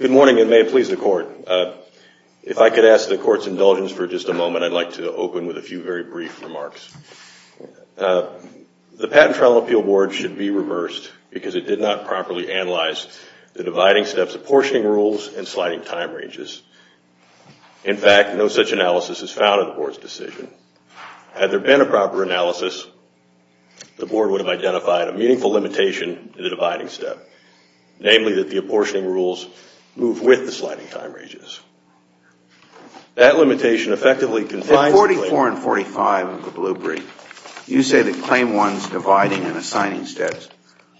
Good morning and may it please the court. If I could ask the court's indulgence for just a moment, I'd like to open with a few very brief remarks. The Patent Trial and Appeal Board should be reversed because it did not properly analyze the dividing steps, apportioning rules, and sliding time ranges. In fact, no such analysis is found in the Board's decision. Had there been a proper analysis, the Board would have identified a meaningful limitation to the dividing step, namely that the apportioning rules move with the sliding time ranges. 44 and 45 of the blue brief. You say that Claim 1's dividing and assigning steps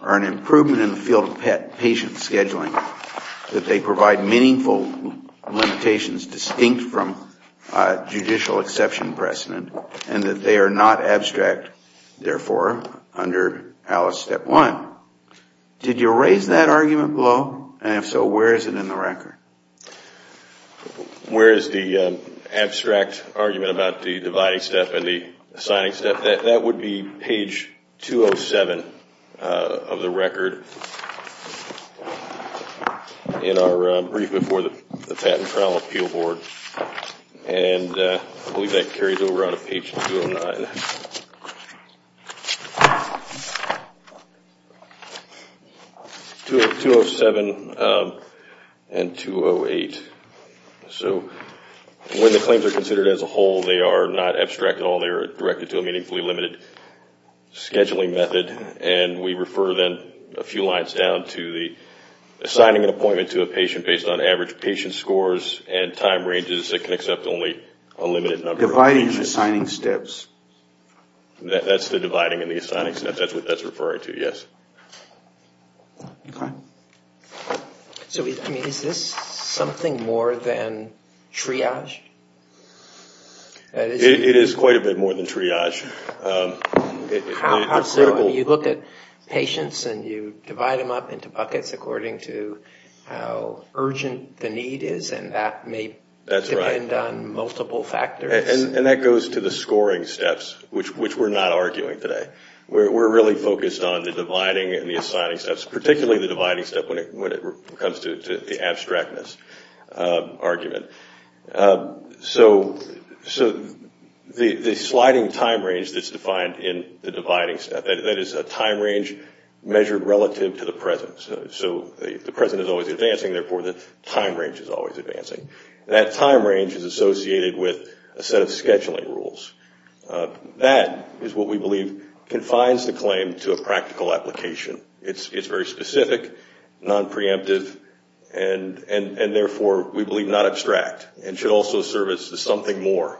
are an improvement in the field of patient scheduling, that they provide meaningful limitations distinct from judicial exception precedent, and that they are not abstract, therefore, under Alice Step 1. Now, did you raise that argument below? And if so, where is it in the record? Where is the abstract argument about the dividing step and the assigning step? That would be page 207 of the record in our brief before the Patent Trial and Appeal Board. And I believe that carries over onto page 209. 207 and 208. So when the claims are considered as a whole, they are not abstract at all. They are directed to a meaningfully limited scheduling method, and we refer then a few lines down to the assigning an appointment to a patient based on average patient scores and time ranges that can accept only a limited number of patients. Dividing and assigning steps. That's the dividing and the assigning steps. That's what that's referring to, yes. Okay. So is this something more than triage? It is quite a bit more than triage. You look at patients and you divide them up into buckets according to how urgent the need is, and that may depend on multiple factors. And that goes to the scoring steps, which we're not arguing today. We're really focused on the dividing and the assigning steps, particularly the dividing step when it comes to the abstractness argument. So the sliding time range that's defined in the dividing step, that is a time range measured relative to the present. So the present is always advancing, therefore the time range is always advancing. That time range is associated with a set of scheduling rules. That is what we believe confines the claim to a practical application. It's very specific, non-preemptive, and therefore we believe not abstract, and should also serve as something more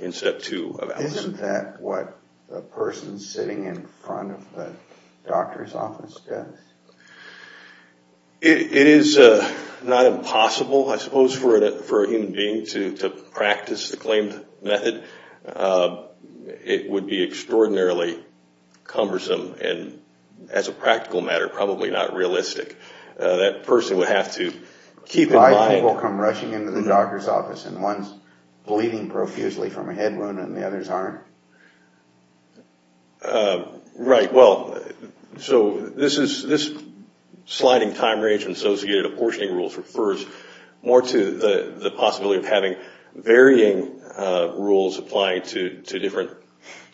in step two. Isn't that what the person sitting in front of the doctor's office does? It is not impossible, I suppose, for a human being to practice the claimed method. It would be extraordinarily cumbersome and, as a practical matter, probably not realistic. That person would have to keep in mind... Why do people come rushing into the doctor's office and one's bleeding profusely from a head wound and the others aren't? Right, well, so this sliding time range associated with apportioning rules refers more to the possibility of having varying rules applying to different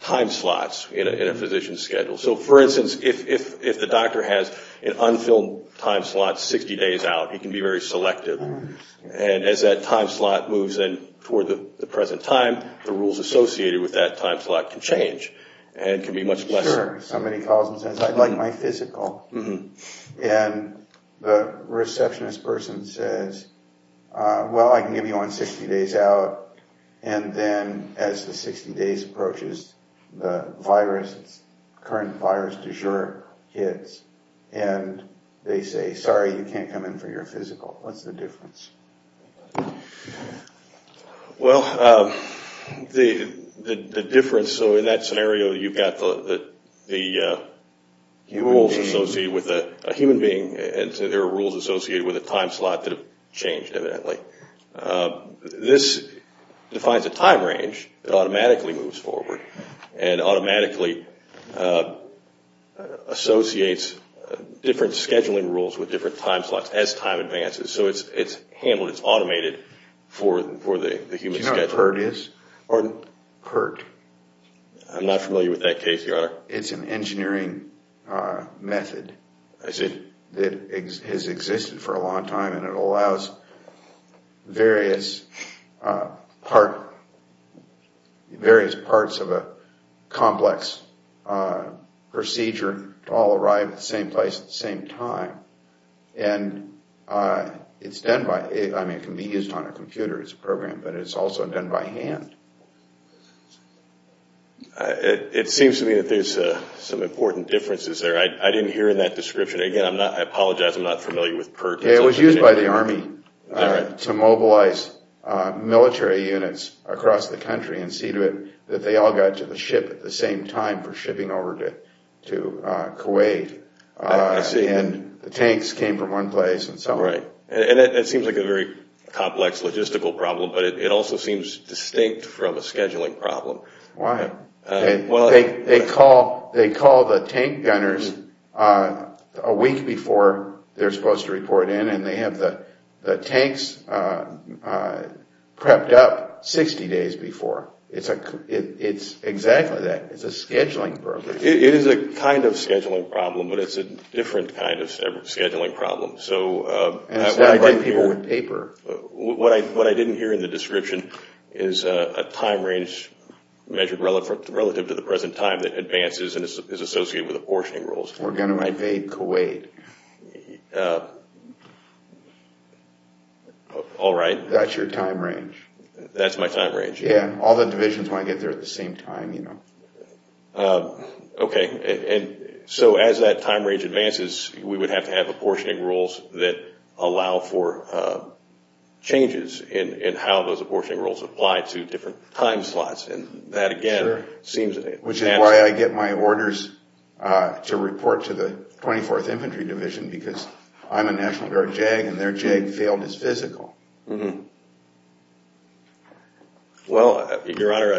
time slots in a physician's schedule. So, for instance, if the doctor has an unfilled time slot 60 days out, he can be very selective. And as that time slot moves in toward the present time, the rules associated with that time slot can change and can be much less... Sure, somebody calls and says, I'd like my physical. And the receptionist person says, well, I can give you one 60 days out. And then, as the 60 days approaches, the virus, the current virus, de jure hits and they say, sorry, you can't come in for your physical. What's the difference? Well, the difference... In that scenario, you've got the rules associated with a human being and there are rules associated with a time slot that have changed, evidently. This defines a time range that automatically moves forward and automatically associates different scheduling rules with different time slots as time advances. So it's handled, it's automated for the human schedule. I'm not familiar with that case, Your Honor. It's an engineering method that has existed for a long time and it allows various parts of a complex procedure to all arrive at the same place at the same time. And it can be used on a computer as a program, but it's also done by hand. It seems to me that there's some important differences there. I didn't hear in that description. Again, I apologize, I'm not familiar with PERT. It was used by the Army to mobilize military units across the country and see to it that they all got to the ship at the same time for shipping over to Kuwait. And the tanks came from one place and so on. Right. And it seems like a very complex logistical problem, but it also seems distinct from a scheduling problem. Why? They call the tank gunners a week before they're supposed to report in and they have the tanks prepped up 60 days before. It's exactly that. It's a scheduling problem. It is a kind of scheduling problem, but it's a different kind of scheduling problem. What I didn't hear in the description is a time range measured relative to the present time that advances and is associated with apportioning roles. We're going to invade Kuwait. All right. That's your time range. That's my time range. Yeah, all the divisions want to get there at the same time. Okay. So as that time range advances, we would have to have apportioning roles that allow for changes in how those apportioning roles apply to different time slots. Sure. Which is why I get my orders to report to the 24th Infantry Division because I'm a National Guard JAG and their JAG field is physical. Well, Your Honor,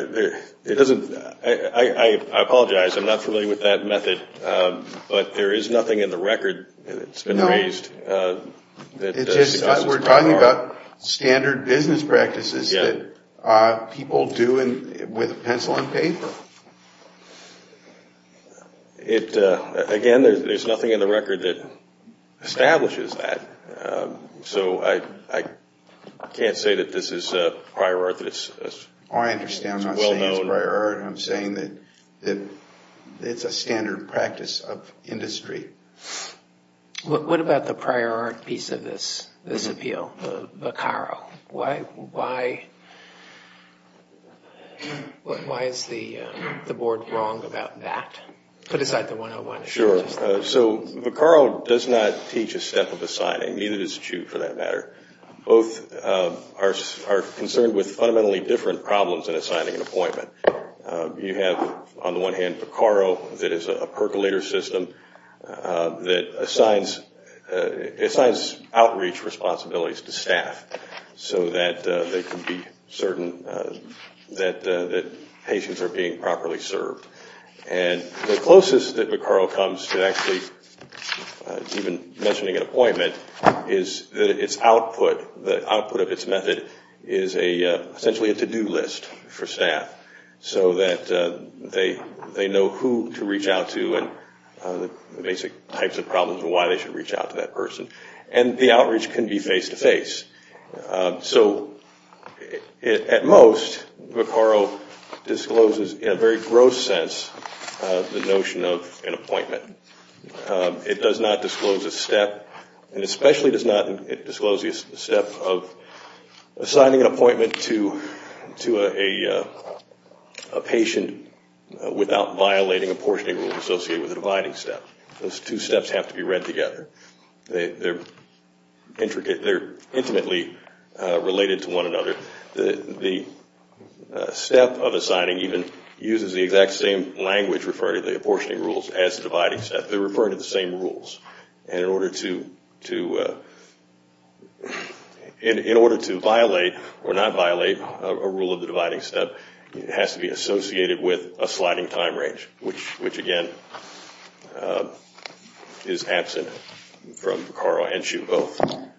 I apologize. I'm not familiar with that method, but there is nothing in the record that's been raised. No. We're talking about standard business practices that people do with pencil and paper. Again, there's nothing in the record that establishes that. So I can't say that this is prior art. I understand. I'm not saying it's prior art. I'm saying that it's a standard practice of industry. What about the prior art piece of this appeal, the VCARO? Why is the Board wrong about that? Put aside the 101. Sure. So VCARO does not teach a step of assigning. Neither does CHOO for that matter. Both are concerned with fundamentally different problems in assigning an appointment. You have, on the one hand, VCARO that is a percolator system that assigns outreach responsibilities to staff so that they can be certain that patients are being properly served. And the closest that VCARO comes to actually even mentioning an appointment is its output. The output of its method is essentially a to-do list for staff so that they know who to reach out to and the basic types of problems and why they should reach out to that person. And the outreach can be face-to-face. So at most, VCARO discloses in a very gross sense the notion of an appointment. It does not disclose a step and especially does not disclose the step of assigning an appointment to a patient without violating a portion of the rule associated with the dividing step. Those two steps have to be read together. They are intimately related to one another. The step of assigning even uses the exact same language referring to the apportioning rules as the dividing step. They are referring to the same rules. In order to violate or not violate a rule of the dividing step, it has to be associated with a sliding time range, which, again, is absent from VCARO and CHUCO.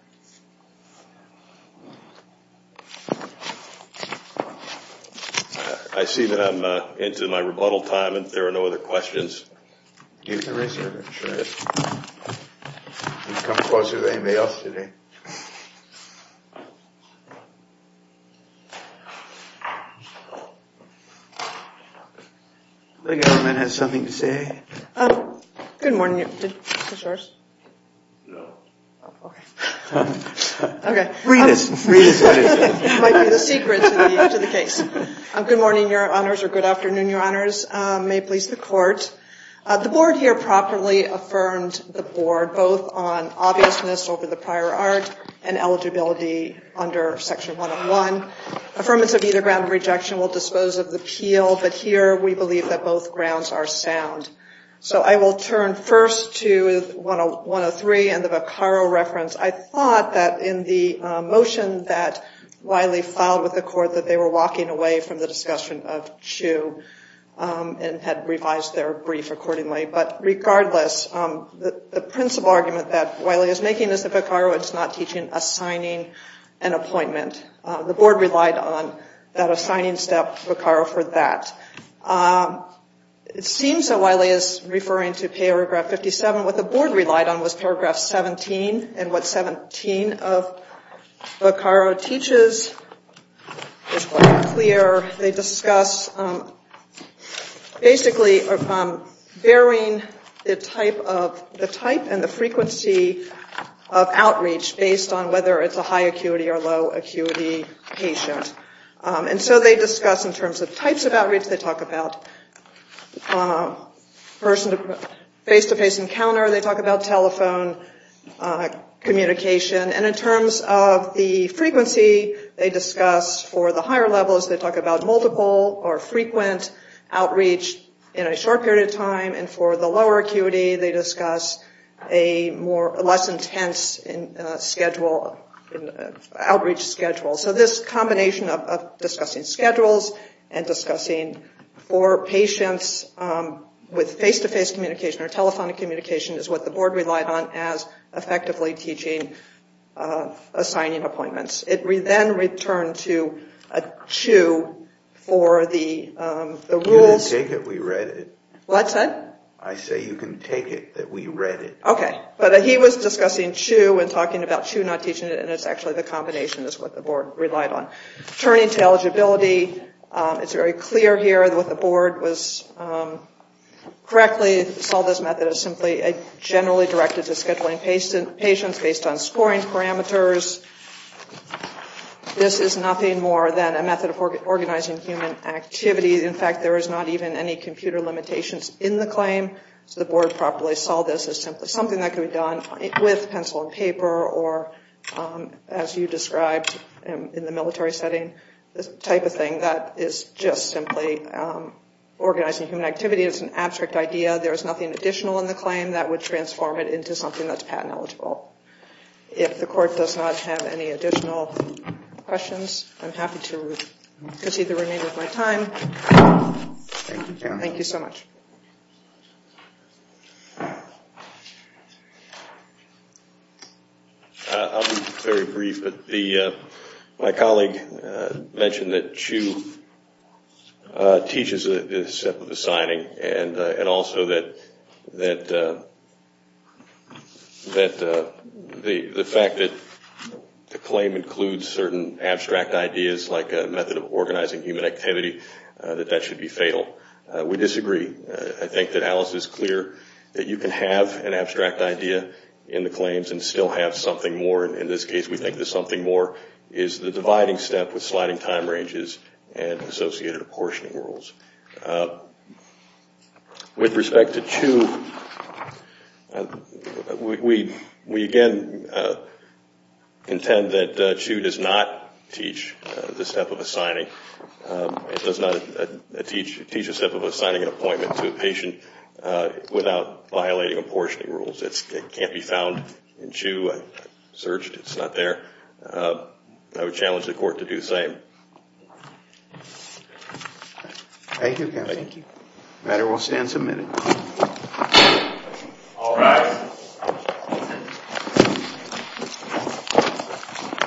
I see that I'm into my rebuttal time and there are no other questions. Do you have a reservation? You've come closer than anybody else today. The government has something to say. Good morning. Is this yours? No. Okay. Okay. Read it. It might be the secret to the case. Good morning, Your Honors, or good afternoon, Your Honors. May it please the Court. The Board here properly affirmed the Board, both on obviousness over the prior art and eligibility under Section 101. Affirmance of either ground of rejection will dispose of the appeal, but here we believe that both grounds are sound. So I will turn first to 103 and the VCARO reference. I thought that in the motion that Wiley filed with the Court that they were and had revised their brief accordingly. But regardless, the principal argument that Wiley is making is that VCARO is not teaching a signing an appointment. The Board relied on that assigning step, VCARO, for that. It seems that Wiley is referring to paragraph 57. What the Board relied on was paragraph 17, and what 17 of VCARO teaches is quite clear. They discuss basically varying the type and the frequency of outreach based on whether it's a high acuity or low acuity patient. And so they discuss in terms of types of outreach. They talk about face-to-face encounter. They talk about telephone communication. And in terms of the frequency, they discuss for the higher levels, they talk about multiple or frequent outreach in a short period of time. And for the lower acuity, they discuss a less intense outreach schedule. So this combination of discussing schedules and discussing for patients with face-to-face communication or telephonic communication is what the Board relied on as effectively teaching assigning appointments. It then returned to Chu for the rules. You can take it. We read it. What's that? I say you can take it that we read it. Okay. But he was discussing Chu and talking about Chu not teaching it, and it's actually the combination is what the Board relied on. Turning to eligibility, it's very clear here what the Board was correctly, saw this method as simply generally directed to scheduling patients based on This is nothing more than a method of organizing human activity. In fact, there is not even any computer limitations in the claim. So the Board properly saw this as simply something that could be done with pencil and paper or, as you described in the military setting, this type of thing that is just simply organizing human activity. It's an abstract idea. There is nothing additional in the claim that would transform it into something that's patent eligible. If the Court does not have any additional questions, I'm happy to concede the remainder of my time. Thank you so much. I'll be very brief, but my colleague mentioned that Chu teaches the step of the signing and also that the fact that the claim includes certain abstract ideas like a method of organizing human activity, that that should be fatal. We disagree. I think that Alice is clear that you can have an abstract idea in the claims and still have something more. In this case, we think the something more is the dividing step with sliding time ranges and associated apportioning rules. With respect to Chu, we again contend that Chu does not teach the step of assigning an appointment to a patient without violating apportioning rules. It can't be found in Chu. I searched. It's not there. I would challenge the Court to do the same. Thank you. The matter will stand submitted.